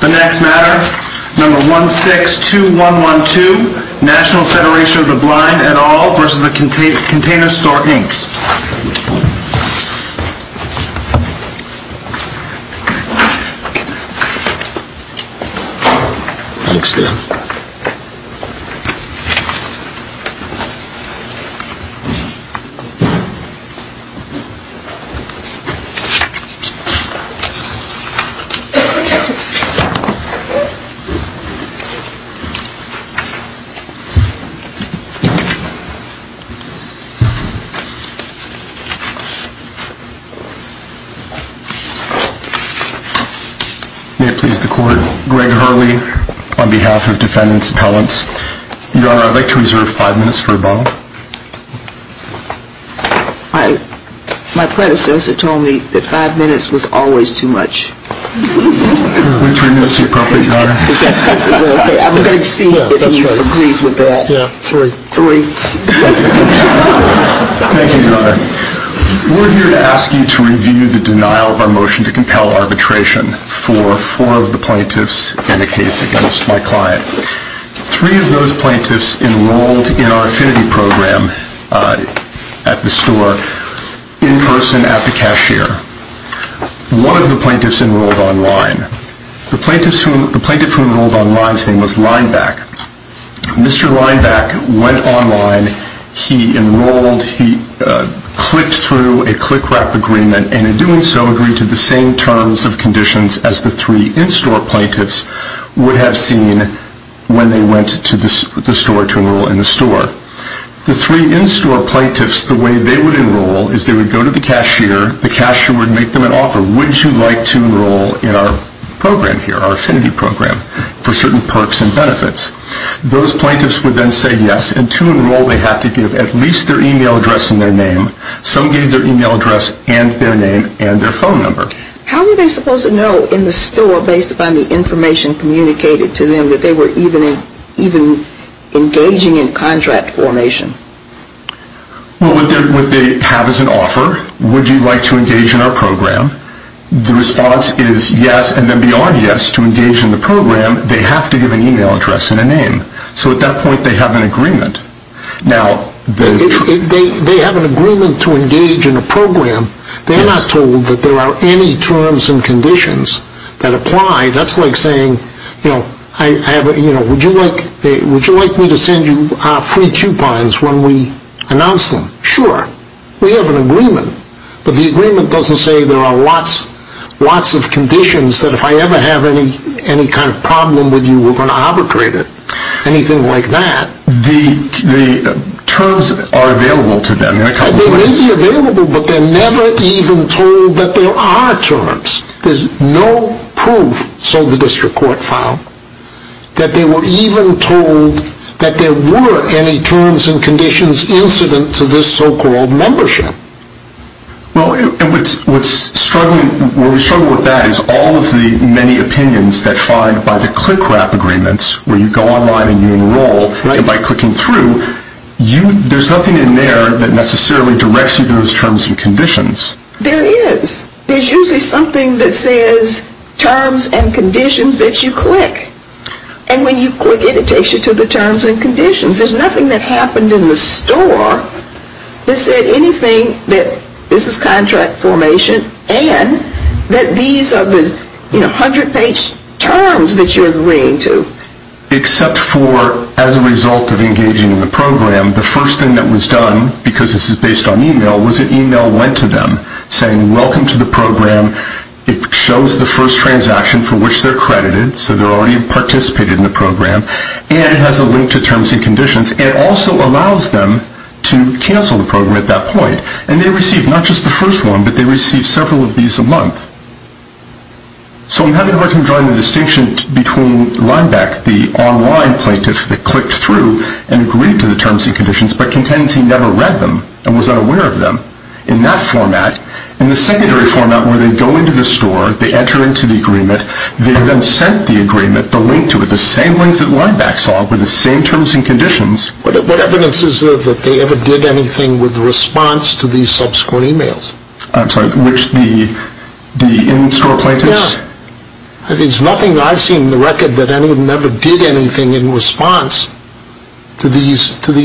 The next matter, No. 162112, National Federation of the Blind et al. v. Container Store, Inc. May it please the Court, Greg Hurley on behalf of Defendant's Appellants. Your Honor, I'd like to reserve five minutes for rebuttal. My predecessor told me that five minutes was always too much. We're here to ask you to review the denial of our motion to compel arbitration for four of the plaintiffs and a case against my client. Three of those plaintiffs enrolled in our affinity program at the store in person at the cashier. One of the plaintiffs enrolled online. The plaintiff who enrolled online's name was Lineback. Mr. Lineback went online, he enrolled, he clicked through a click-wrap agreement, and in doing so agreed to the same terms of conditions as the three in-store plaintiffs would have seen when they went to the store to enroll in the store. The three in-store plaintiffs, the way they would enroll is they would go to the cashier, the cashier would make them an offer. Would you like to enroll in our program here, our affinity program, for certain perks and benefits? Those plaintiffs would then say yes, and to enroll they had to give at least their email address and their name. Some gave their email address and their name and their phone number. How were they supposed to know in the store based upon the information communicated to them that they were even engaging in contract formation? Well, what they have is an offer. Would you like to engage in our program? The response is yes, and then beyond yes to engage in the program, they have to give an email address and a name. So at that point they have an agreement. Now, they have an agreement to engage in a program. They're not told that there are any terms and conditions that apply. That's like saying, you know, would you like me to send you free coupons when we announce them? Sure. We have an agreement, but the agreement doesn't say there are lots of conditions that if I ever have any kind of problem with you, we're going to arbitrate it. Anything like that. The terms are available to them in a couple of ways. They may be available, but they're never even told that there are terms. There's no proof, so the district court found, that they were even told that there were any terms and conditions incident to this so-called membership. Well, what's struggling, where we struggle with that is all of the many opinions that find by the click wrap agreements, where you go online and you enroll, and by clicking through, there's nothing in there that necessarily directs you to those terms and conditions. There is. There's usually something that says terms and conditions that you click. And when you click it, it takes you to the terms and conditions. There's nothing that happened in the store that said anything that this is contract formation and that these are the 100 page terms that you're agreeing to. Except for, as a result of engaging in the program, the first thing that was done, because this is based on email, was an email went to them saying welcome to the program. It shows the first transaction for which they're credited, so they're already participated in the program. And it has a link to terms and conditions. It also allows them to cancel the program at that point. And they receive not just the So I haven't heard him join the distinction between Lineback, the online plaintiff that clicked through and agreed to the terms and conditions, but contends he never read them and was unaware of them. In that format, in the secondary format where they go into the store, they enter into the agreement, they then sent the agreement, the link to it, the same link that Lineback saw, with the same terms and conditions. What evidence is there that they ever did anything with response to these subsequent emails? I'm sorry, which the in-store plaintiffs? Yeah. There's nothing I've seen in the record that anyone ever did anything in response to these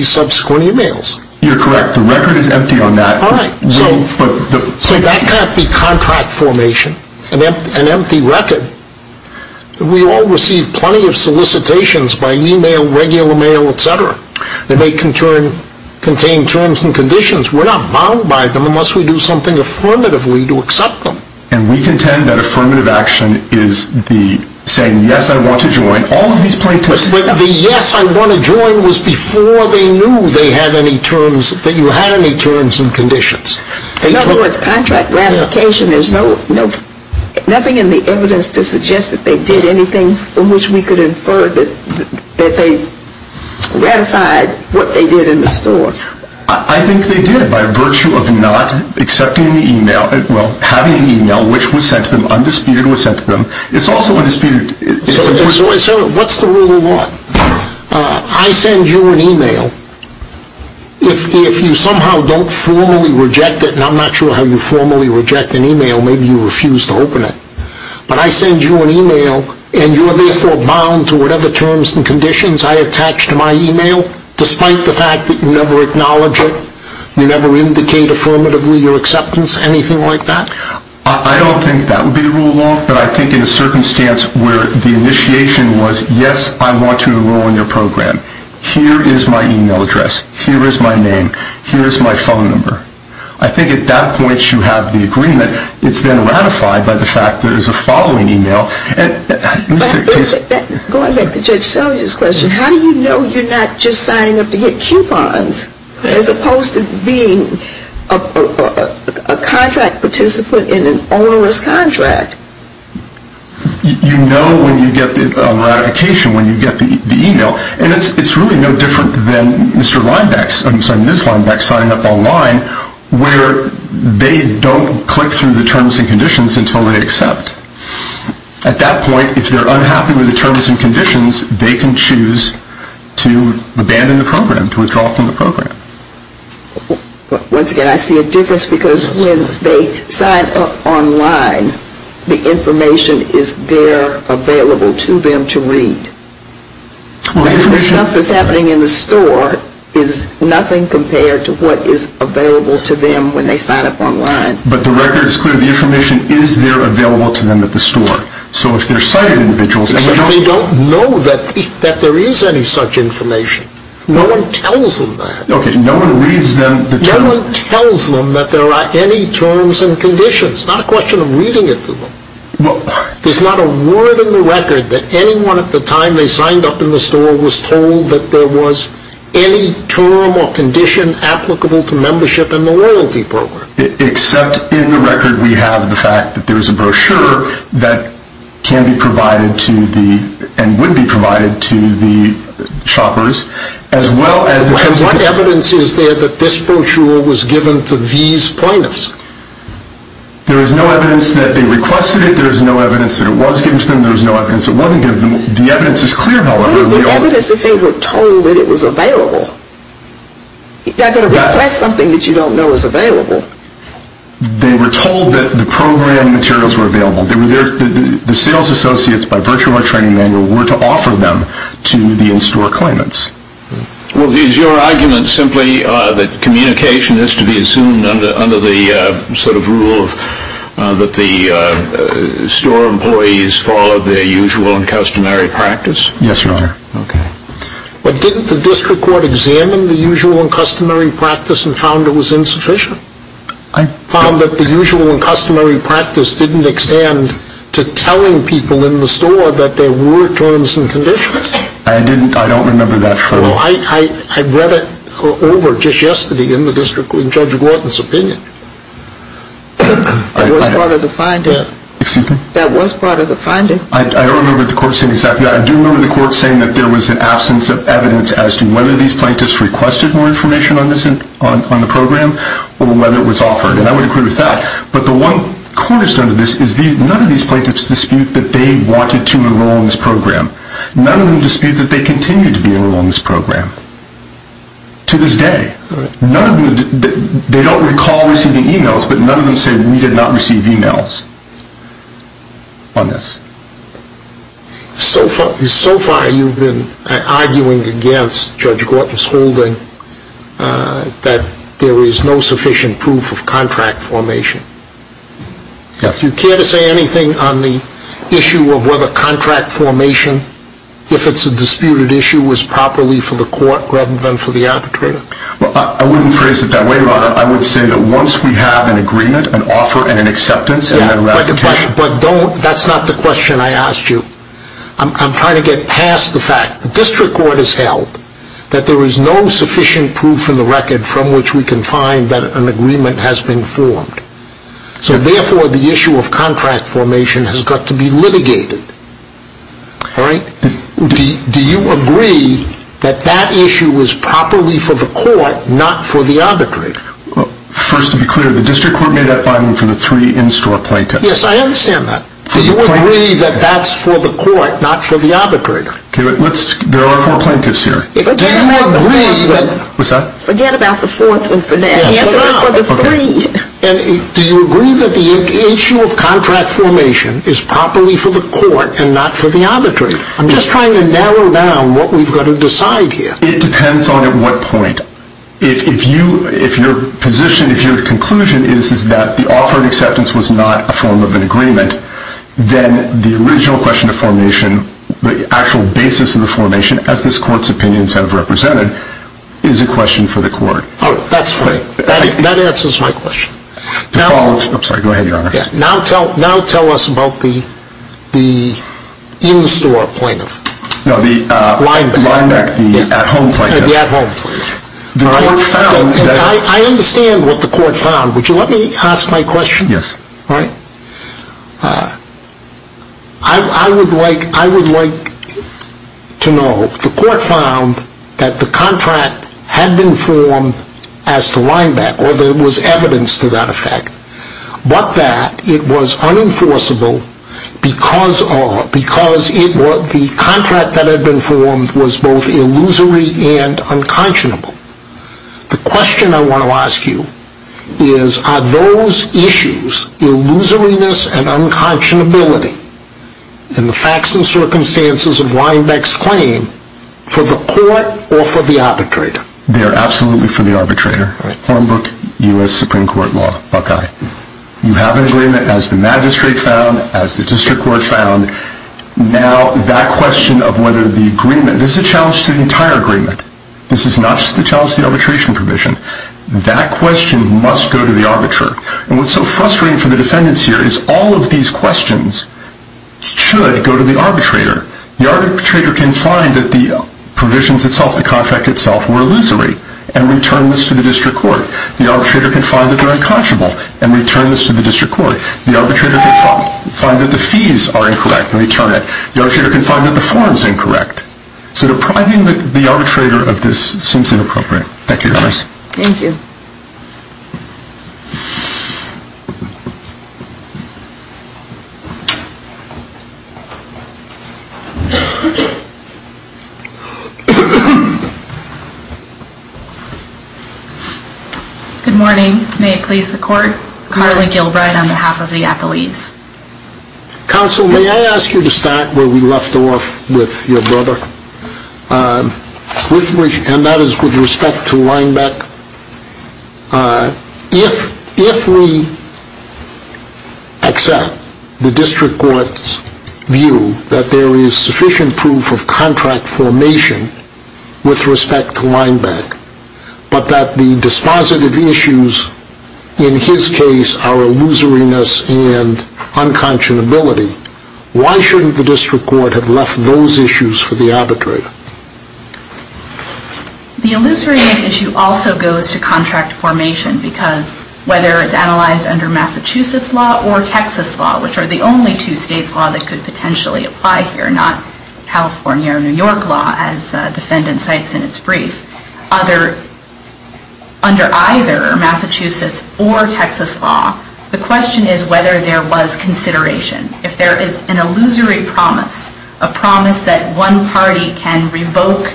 subsequent emails. You're correct. The record is empty on that. All right. So that can't be contract formation. An empty record. We all receive plenty of solicitations by email, regular mail, etc. that may contain terms and conditions. We're not bound by them unless we do something affirmatively to accept them. And we contend that affirmative action is the saying, yes, I want to join all of these plaintiffs. But the yes, I want to join was before they knew they had any terms, that you had any terms and conditions. In other words, contract ratification, there's nothing in the evidence to suggest that they did anything in which we could infer that they ratified what they did in the store. I think they did by virtue of not accepting the email, well, having an email which was sent to them, undisputed was sent to them. It's also undisputed. So what's the rule of law? I send you an email. If you somehow don't formally reject it, and I'm not sure how you formally reject an email, maybe you refuse to open it. But I send you an email, and you're therefore bound to whatever terms and conditions I attach to my email, despite the fact that you never acknowledge it, you never indicate affirmatively your acceptance, anything like that? I don't think that would be the rule of law, but I think in a circumstance where the initiation was, yes, I want to enroll in your program, here is my email address, here is my name, here is my phone number. I think at that point you have the agreement. It's then ratified by the fact that it's a following email. Going back to Judge Seligman's question, how do you know you're not just signing up to get coupons, as opposed to being a contract participant in an onerous contract? You know when you get the ratification, when you get the email. And it's really no different than Mr. Linebacker, I'm sorry, Ms. Linebacker signing up online, where they don't click through the terms and conditions until they accept. At that point, if they're unhappy with the terms and conditions, they can choose to abandon the program, to withdraw from the program. Once again, I see a difference because when they sign up online, the information is there available to them to read. The stuff that's happening in the store is nothing compared to what is available to them when they sign up online. But the record is clear. The information is there available to them at the store. So if they're sighted individuals... But they don't know that there is any such information. No one tells them that. Okay, no one reads them the terms... No one tells them that there are any terms and conditions. It's not a question of reading it to them. There's not a word in the record that anyone at the time they signed up in the store was told that there was any term or condition applicable to membership in the loyalty program. Except in the record we have the fact that there is a brochure that can be provided to the, and would be provided to the shoppers as well as... And what evidence is there that this brochure was given to these plaintiffs? There is no evidence that they requested it. There is no evidence that it was given to them. There is no evidence it wasn't given to them. The evidence is clear, however... What is the evidence if they were told that it was available? That's something that you don't know is available. They were told that the program materials were available. The sales associates by virtue of our training manual were to offer them to the in-store claimants. Well, is your argument simply that communication is to be assumed under the sort of rule that the store employees follow their usual and customary practice? Yes, Your Honor. Okay. But didn't the district court examine the usual and customary practice and found it was insufficient? I... Found that the usual and customary practice didn't extend to telling people in the store that there were terms and conditions. I didn't, I don't remember that, Your Honor. Well, I read it over just yesterday in the district, in Judge Gordon's opinion. That was part of the finding. Excuse me? That was part of the finding. I don't remember the court saying exactly that. I do remember the court saying that there was an absence of evidence as to whether these plaintiffs requested more information on this, on the program, or whether it was offered. And I would agree with that. But the one cornerstone to this is none of these plaintiffs dispute that they wanted to enroll in this program. None of them dispute that they continue to be enrolled in this program. To this day. None of them, they don't recall receiving emails, but none of them say, that we did not receive emails on this. So far, you've been arguing against Judge Gordon's holding that there is no sufficient proof of contract formation. Yes. Do you care to say anything on the issue of whether contract formation, if it's a disputed issue, was properly for the court rather than for the arbitrator? Well, I wouldn't phrase it that way, Your Honor. I would say that once we have an agreement, an offer, and an acceptance, and then ratification. But don't, that's not the question I asked you. I'm trying to get past the fact. The district court has held that there is no sufficient proof in the record from which we can find that an agreement has been formed. So therefore, the issue of contract formation has got to be litigated. All right? Do you agree that that issue was properly for the court, not for the arbitrator? First, to be clear, the district court made that final for the three in-store plaintiffs. Yes, I understand that. Do you agree that that's for the court, not for the arbitrator? There are four plaintiffs here. Forget about the fourth one for now. He has it right for the three. Do you agree that the issue of contract formation is properly for the court and not for the arbitrator? I'm just trying to narrow down what we've got to decide here. It depends on at what point. If your position, if your conclusion is that the offer of acceptance was not a form of an agreement, then the original question of formation, the actual basis of the formation, as this court's opinions have represented, is a question for the court. Oh, that's fine. That answers my question. Now tell us about the in-store plaintiff. No, the linebacker, the at-home plaintiff. The at-home plaintiff. I understand what the court found. Would you let me ask my question? Yes. All right. I would like to know, the court found that the contract had been formed as the linebacker, or there was evidence to that effect, but that it was unenforceable because of, because the contract that had been formed was both illusory and unconscionable. The question I want to ask you is, are those issues, illusoriness and unconscionability, in the facts and circumstances of linebacker's claim, for the court or for the arbitrator? They are absolutely for the arbitrator. Hornbrook U.S. Supreme Court Law, Buckeye. You have an agreement as the magistrate found, as the district court found. Now that question of whether the agreement, this is a challenge to the entire agreement. This is not just a challenge to the arbitration provision. That question must go to the arbiter. And what's so frustrating for the defendants here is all of these questions should go to the arbitrator. The arbitrator can find that the provisions itself, the contract itself, were illusory and return this to the district court. The arbitrator can find that they're unconscionable and return this to the district court. The arbitrator can find that the fees are incorrect and return it. The arbitrator can find that the form is incorrect. So depriving the arbitrator of this seems inappropriate. Thank you, Your Honor. Thank you. Good morning. May it please the court. Carly Gilbride on behalf of the appellees. Counsel, may I ask you to start where we left off with your brother? And that is with respect to linebacker. If we accept the district court's view that there is sufficient proof of contract formation with respect to linebacker, but that the dispositive issues in his case are illusoriness and unconscionability, why shouldn't the district court have left those issues for the arbitrator? The illusoriness issue also goes to contract formation, because whether it's analyzed under Massachusetts law or Texas law, which are the only two states' law that could potentially apply here, not California or New York law, as the defendant cites in its brief. Under either Massachusetts or Texas law, the question is whether there was consideration. If there is an illusory promise, a promise that one party can revoke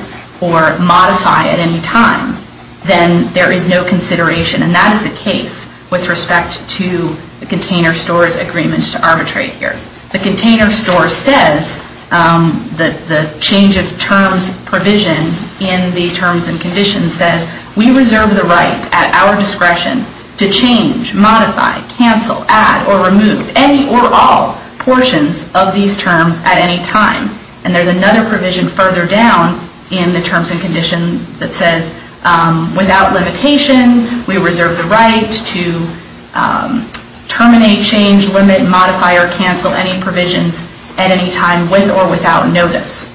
or modify at any time, then there is no consideration. And that is the case with respect to the container store's agreement to arbitrate here. The container store says that the change of terms provision in the terms and conditions says, we reserve the right at our discretion to change, modify, cancel, add, or remove any or all portions of these terms at any time. And there's another provision further down in the terms and conditions that says, without limitation, we reserve the right to terminate, change, limit, modify, or cancel any provisions at any time with or without notice.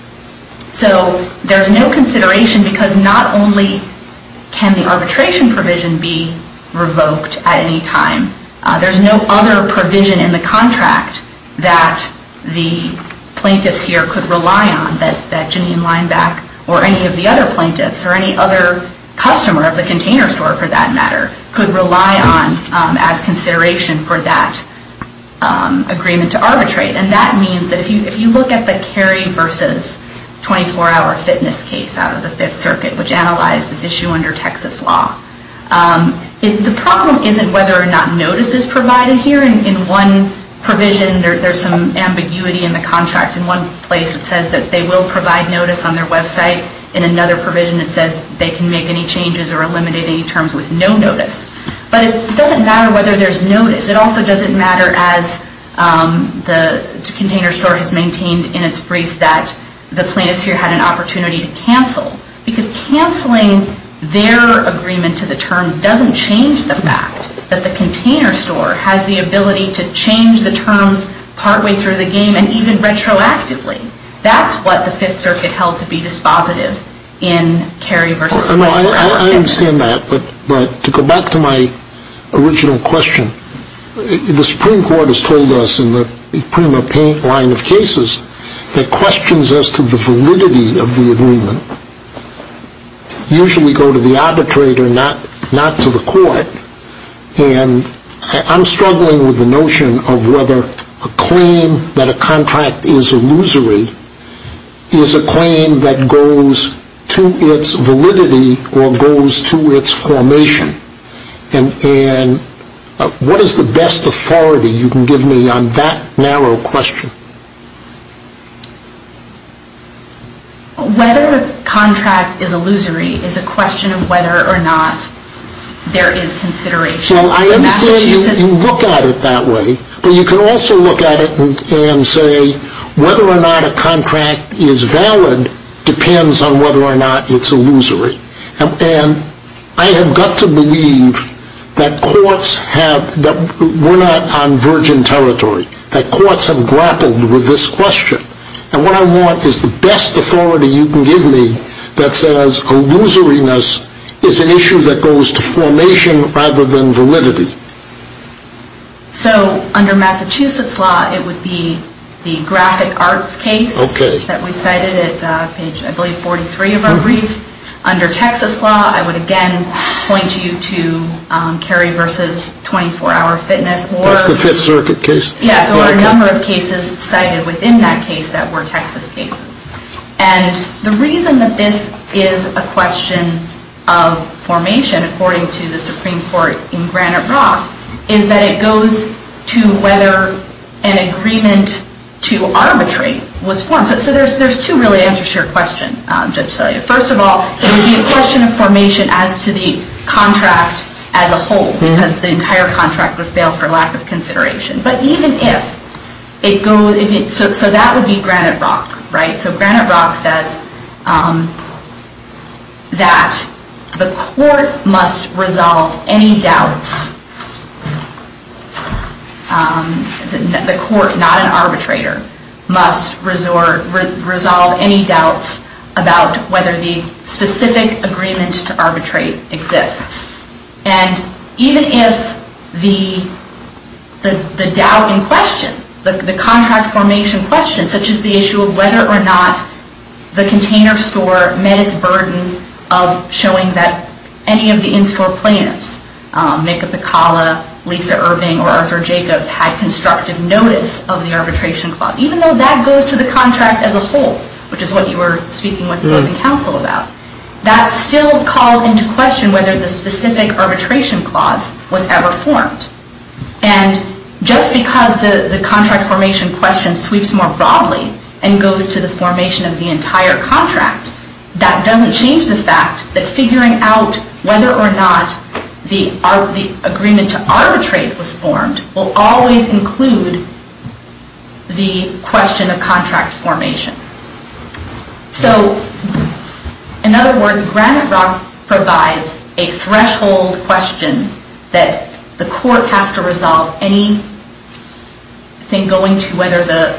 So there's no consideration, because not only can the arbitration provision be revoked at any time, there's no other provision in the contract that the plaintiffs here could rely on, that Janine Lineback or any of the other plaintiffs or any other customer of the container store, for that matter, could rely on as consideration for that agreement to arbitrate. And that means that if you look at the Cary versus 24-hour fitness case out of the Fifth Circuit, which analyzed this issue under Texas law, the problem isn't whether or not notice is provided here. In one provision, there's some ambiguity in the contract. In one place, it says that they will provide notice on their website. In another provision, it says they can make any changes or eliminate any terms with no notice. But it doesn't matter whether there's notice. It also doesn't matter as the container store has maintained in its brief that the plaintiffs here had an opportunity to cancel, because canceling their agreement to the terms doesn't change the fact that the container store has the ability to change the terms partway through the game and even retroactively. That's what the Fifth Circuit held to be dispositive in Cary versus 24-hour fitness. I understand that, but to go back to my original question, the Supreme Court has told us in the Prima Paint line of cases that questions as to the validity of the agreement usually go to the arbitrator, not to the court. And I'm struggling with the notion of whether a claim that a contract is illusory is a claim that goes to its validity or goes to its formation. And what is the best authority you can give me on that narrow question? Whether a contract is illusory is a question of whether or not there is consideration. Well, I understand you look at it that way. But you can also look at it and say whether or not a contract is valid depends on whether or not it's illusory. And I have got to believe that courts have, that we're not on virgin territory, that courts have grappled with this question. And what I want is the best authority you can give me that says illusoriness is an issue that goes to formation rather than validity. So under Massachusetts law, it would be the graphic arts case that we cited at page, I believe, 43 of our brief. Under Texas law, I would again point you to Carey v. 24-Hour Fitness. That's the Fifth Circuit case. Yes, or a number of cases cited within that case that were Texas cases. And the reason that this is a question of formation, according to the Supreme Court in Granite Rock, is that it goes to whether an agreement to arbitrate was formed. So there's two really answers to your question, Judge Salia. First of all, it would be a question of formation as to the contract as a whole, because the entire contract would fail for lack of consideration. But even if it goes, so that would be Granite Rock, right? that the court must resolve any doubts, the court, not an arbitrator, must resolve any doubts about whether the specific agreement to arbitrate exists. And even if the doubt in question, the contract formation question, such as the issue of whether or not the container store met its burden of showing that any of the in-store plaintiffs, Mika Pakala, Lisa Irving, or Arthur Jacobs, had constructive notice of the arbitration clause, even though that goes to the contract as a whole, which is what you were speaking with opposing counsel about, that still calls into question whether the specific arbitration clause was ever formed. And just because the contract formation question sweeps more broadly and goes to the formation of the entire contract, that doesn't change the fact that figuring out whether or not the agreement to arbitrate was formed will always include the question of contract formation. So, in other words, Granite Rock provides a threshold question that the court has to resolve anything going to whether the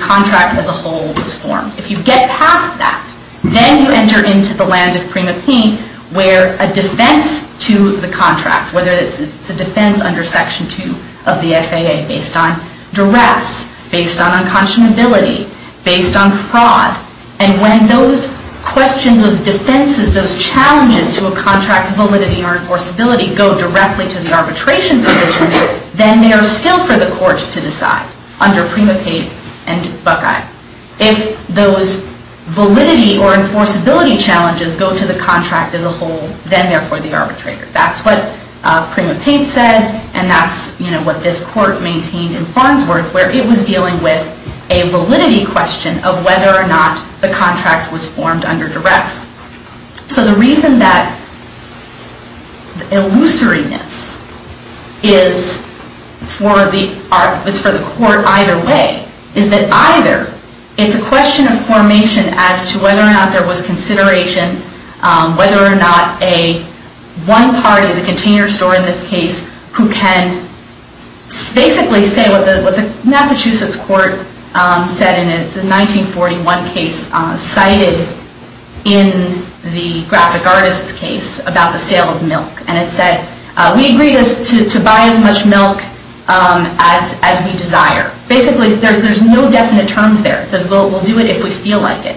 contract as a whole was formed. If you get past that, then you enter into the land of prima pie where a defense to the contract, whether it's a defense under Section 2 of the FAA based on duress, based on unconscionability, based on fraud, and when those questions, those defenses, those challenges to a contract's validity or enforceability go directly to the arbitration division, then they are still for the court to decide under prima pae and Buckeye. If those validity or enforceability challenges go to the contract as a whole, then therefore the arbitrator. That's what prima pae said, and that's what this court maintained in Farnsworth where it was dealing with a validity question of whether or not the contract was formed under duress. So the reason that illusoriness is for the court either way is that either it's a question of formation as to whether or not there was consideration, whether or not a one party, the container store in this case, who can basically say what the Massachusetts court said and it's a 1941 case cited in the graphic artist's case about the sale of milk. And it said, we agree to buy as much milk as we desire. Basically there's no definite terms there. It says we'll do it if we feel like it.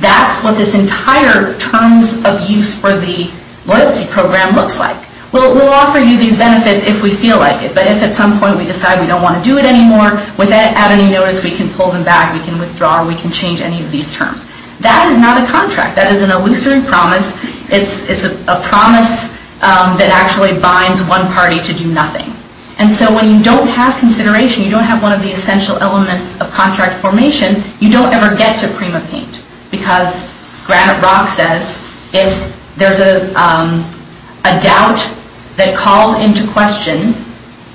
That's what this entire terms of use for the loyalty program looks like. We'll offer you these benefits if we feel like it, but if at some point we decide we don't want to do it anymore, without any notice we can pull them back, we can withdraw, we can change any of these terms. That is not a contract. That is an illusory promise. It's a promise that actually binds one party to do nothing. And so when you don't have consideration, you don't have one of the essential elements of contract formation, you don't ever get to prima pae. Because Granite Rock says if there's a doubt that calls into question,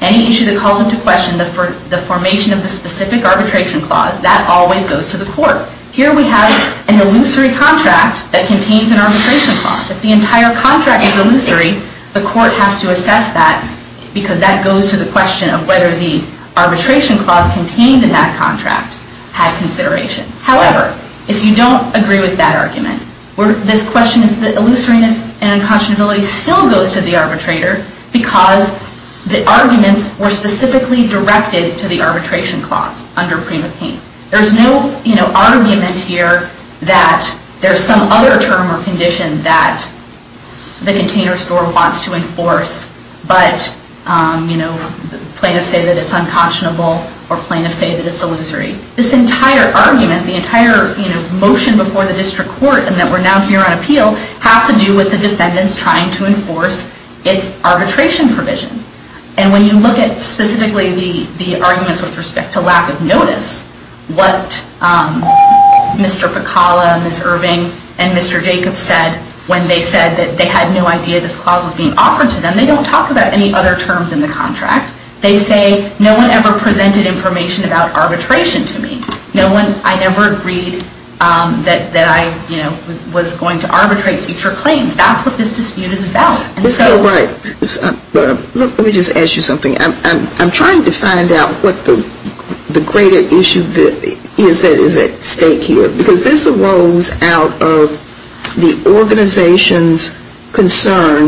any issue that calls into question the formation of the specific arbitration clause, that always goes to the court. Here we have an illusory contract that contains an arbitration clause. If the entire contract is illusory, the court has to assess that because that goes to the question of whether the arbitration clause contained in that contract had consideration. However, if you don't agree with that argument, this question is that illusoriness and unconscionability still goes to the arbitrator because the arguments were specifically directed to the arbitration clause under prima pae. There's no argument here that there's some other term or condition that the container store wants to enforce, but plaintiffs say that it's unconscionable or plaintiffs say that it's illusory. This entire argument, the entire motion before the district court and that we're now here on appeal has to do with the defendants trying to enforce its arbitration provision. And when you look at specifically the arguments with respect to lack of notice, what Mr. Pecala and Ms. Irving and Mr. Jacobs said when they said that they had no idea this clause was being offered to them, they don't talk about any other terms in the contract. They say no one ever presented information about arbitration to me. I never agreed that I was going to arbitrate future claims. That's what this dispute is about. Let me just ask you something. I'm trying to find out what the greater issue is that is at stake here because this arose out of the organization's concern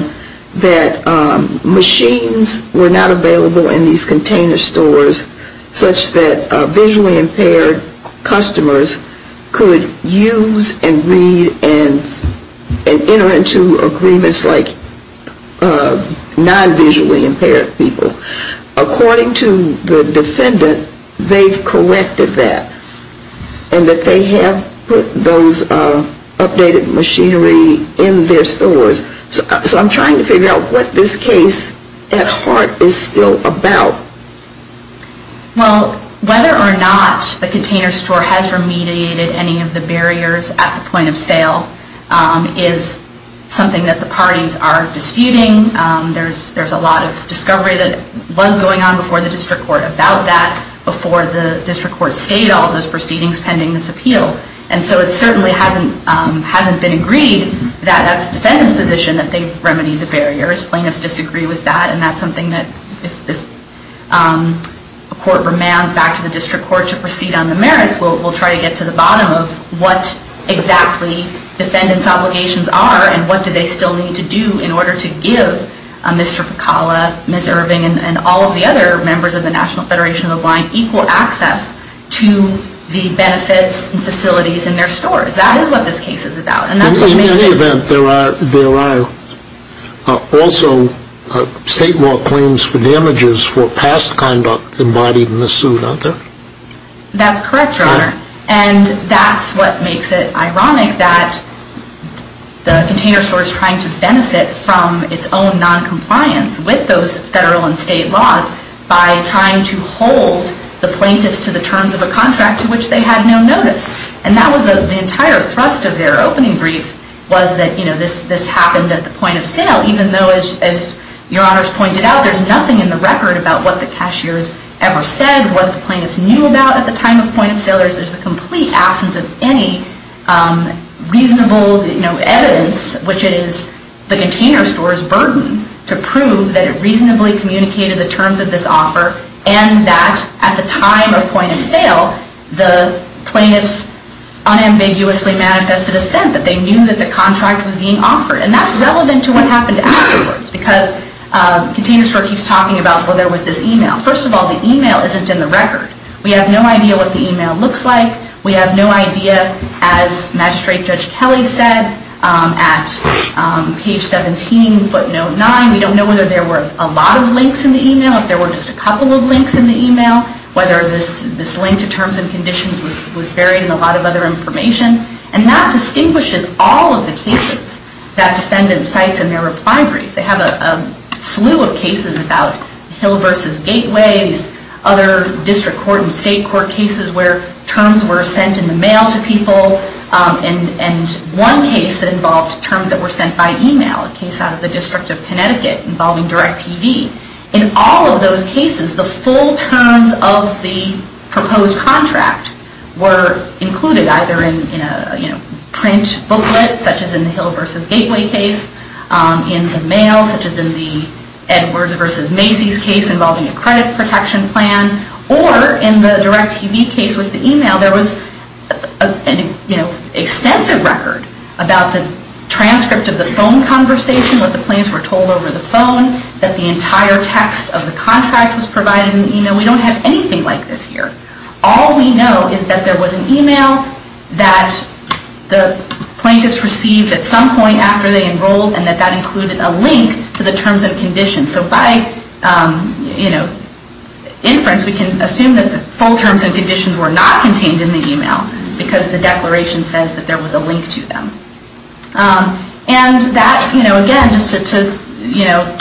that machines were not available in these container stores such that visually impaired customers could use and read and enter into agreements like non-visually impaired people. According to the defendant, they've collected that. And that they have put those updated machinery in their stores. So I'm trying to figure out what this case at heart is still about. Well, whether or not the container store has remediated any of the barriers at the point of sale is something that the parties are disputing. There's a lot of discovery that was going on before the district court about that, before the district court stayed all those proceedings pending this appeal. And so it certainly hasn't been agreed that that's the defendant's position that they've remedied the barriers. Plaintiffs disagree with that. And that's something that if this court remands back to the district court to proceed on the merits, we'll try to get to the bottom of what exactly defendant's obligations are and what do they still need to do in order to give Mr. Pecala, Ms. Irving and all of the other members of the National Federation of the Blind equal access to the benefits and facilities in their stores. That is what this case is about. In any event, there are also state law claims for damages for past conduct embodied in the suit, aren't there? That's correct, Your Honor. And that's what makes it ironic that the container store is trying to benefit from its own noncompliance with those federal and state laws by trying to hold the plaintiffs to the terms of a contract to which they had no notice. And that was the entire thrust of their opening brief was that, you know, this happened at the point of sale even though, as Your Honor's pointed out, there's nothing in the record about what the cashiers ever said, what the plaintiffs knew about at the time of point of sale. There's a complete absence of any reasonable, you know, evidence, which is the container store's burden to prove that it reasonably communicated the terms of this offer and that at the time of point of sale, the plaintiffs unambiguously manifested a sense that they knew that the contract was being offered. And that's relevant to what happened afterwards because container store keeps talking about, well, there was this email. First of all, the email isn't in the record. We have no idea what the email looks like. We have no idea, as Magistrate Judge Kelly said, at page 17, footnote 9, we don't know whether there were a lot of links in the email, if there were just a couple of links in the email, whether this link to terms and conditions was buried in a lot of other information. And that distinguishes all of the cases that defendants cite in their reply brief. They have a slew of cases about Hill v. Gateway, these other district court and state court cases where terms were sent in the mail to people. And one case that involved terms that were sent by email, a case out of the District of Connecticut involving DirecTV. In all of those cases, the full terms of the proposed contract were included either in a print booklet, such as in the Hill v. Gateway case, in the mail, such as in the Edwards v. Macy's case involving a credit protection plan, or in the DirecTV case with the email, there was an extensive record about the transcript of the phone conversation, what the plaintiffs were told over the phone, that the entire text of the contract was provided in the email. We don't have anything like this here. All we know is that there was an email that the plaintiffs received at some point after they enrolled, and that that included a link to the terms and conditions. So by inference, we can assume that the full terms and conditions were not contained in the email, because the declaration says that there was a link to them. And that, again, just to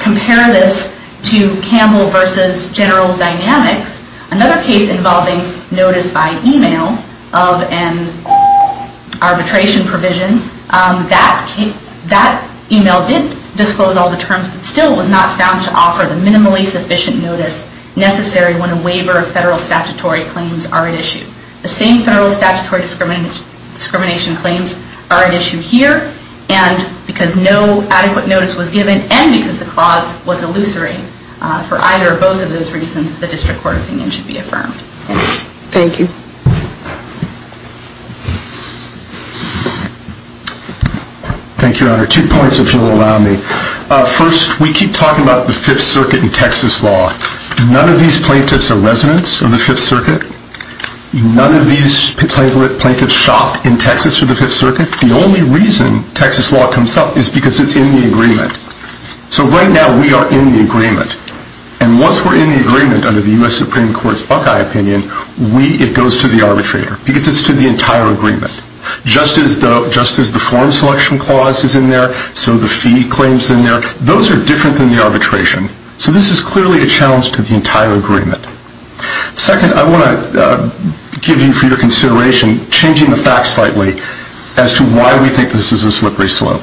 compare this to Campbell v. General Dynamics, another case involving notice by email of an arbitration provision, that email did disclose all the terms, but still was not found to offer the minimally sufficient notice necessary when a waiver of federal statutory claims are at issue. The same federal statutory discrimination claims are at issue here, and because no adequate notice was given, and because the clause was elucidated. For either or both of those reasons, the District Court opinion should be affirmed. Thank you. Thank you, Your Honor. Two points, if you'll allow me. First, we keep talking about the Fifth Circuit and Texas law. None of these plaintiffs are residents of the Fifth Circuit? None of these plaintiffs shopped in Texas for the Fifth Circuit? The only reason Texas law comes up is because it's in the agreement. So right now, we are in the agreement. And once we're in the agreement under the U.S. Supreme Court's Buckeye opinion, it goes to the arbitrator, because it's to the entire agreement. Just as the form selection clause is in there, so the fee claims in there, those are different than the arbitration. So this is clearly a challenge to the entire agreement. Second, I want to give you, for your consideration, changing the facts slightly as to why we think this is a slippery slope.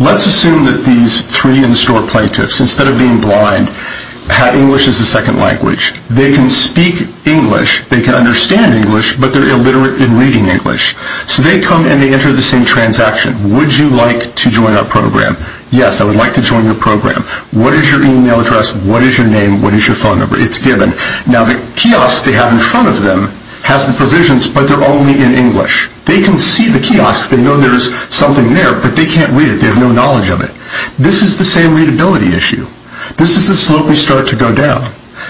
Let's assume that these three in-store plaintiffs, instead of being blind, have English as a second language. They can speak English, they can understand English, but they're illiterate in reading English. So they come and they enter the same transaction. Would you like to join our program? Yes, I would like to join your program. What is your email address? What is your name? What is your phone number? It's given. Now, the kiosk they have in front of them has the provisions, but they're only in English. They can see the kiosk. They know there is something there, but they can't read it. They have no knowledge of it. This is the same readability issue. This is the slope we start to go down.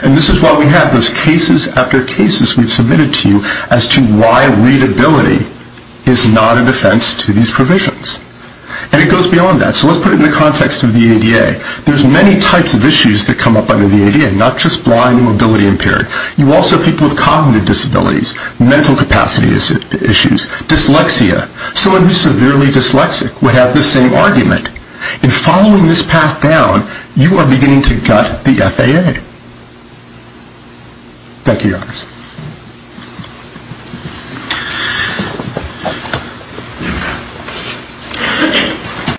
And this is why we have those cases after cases we've submitted to you as to why readability is not a defense to these provisions. And it goes beyond that. So let's put it in the context of the ADA. There's many types of issues that come up under the ADA, not just blind and mobility-impaired. You also have people with cognitive disabilities, mental capacity issues, dyslexia. Someone who is severely dyslexic would have the same argument. In following this path down, you are beginning to gut the FAA. Thank you, Your Honors.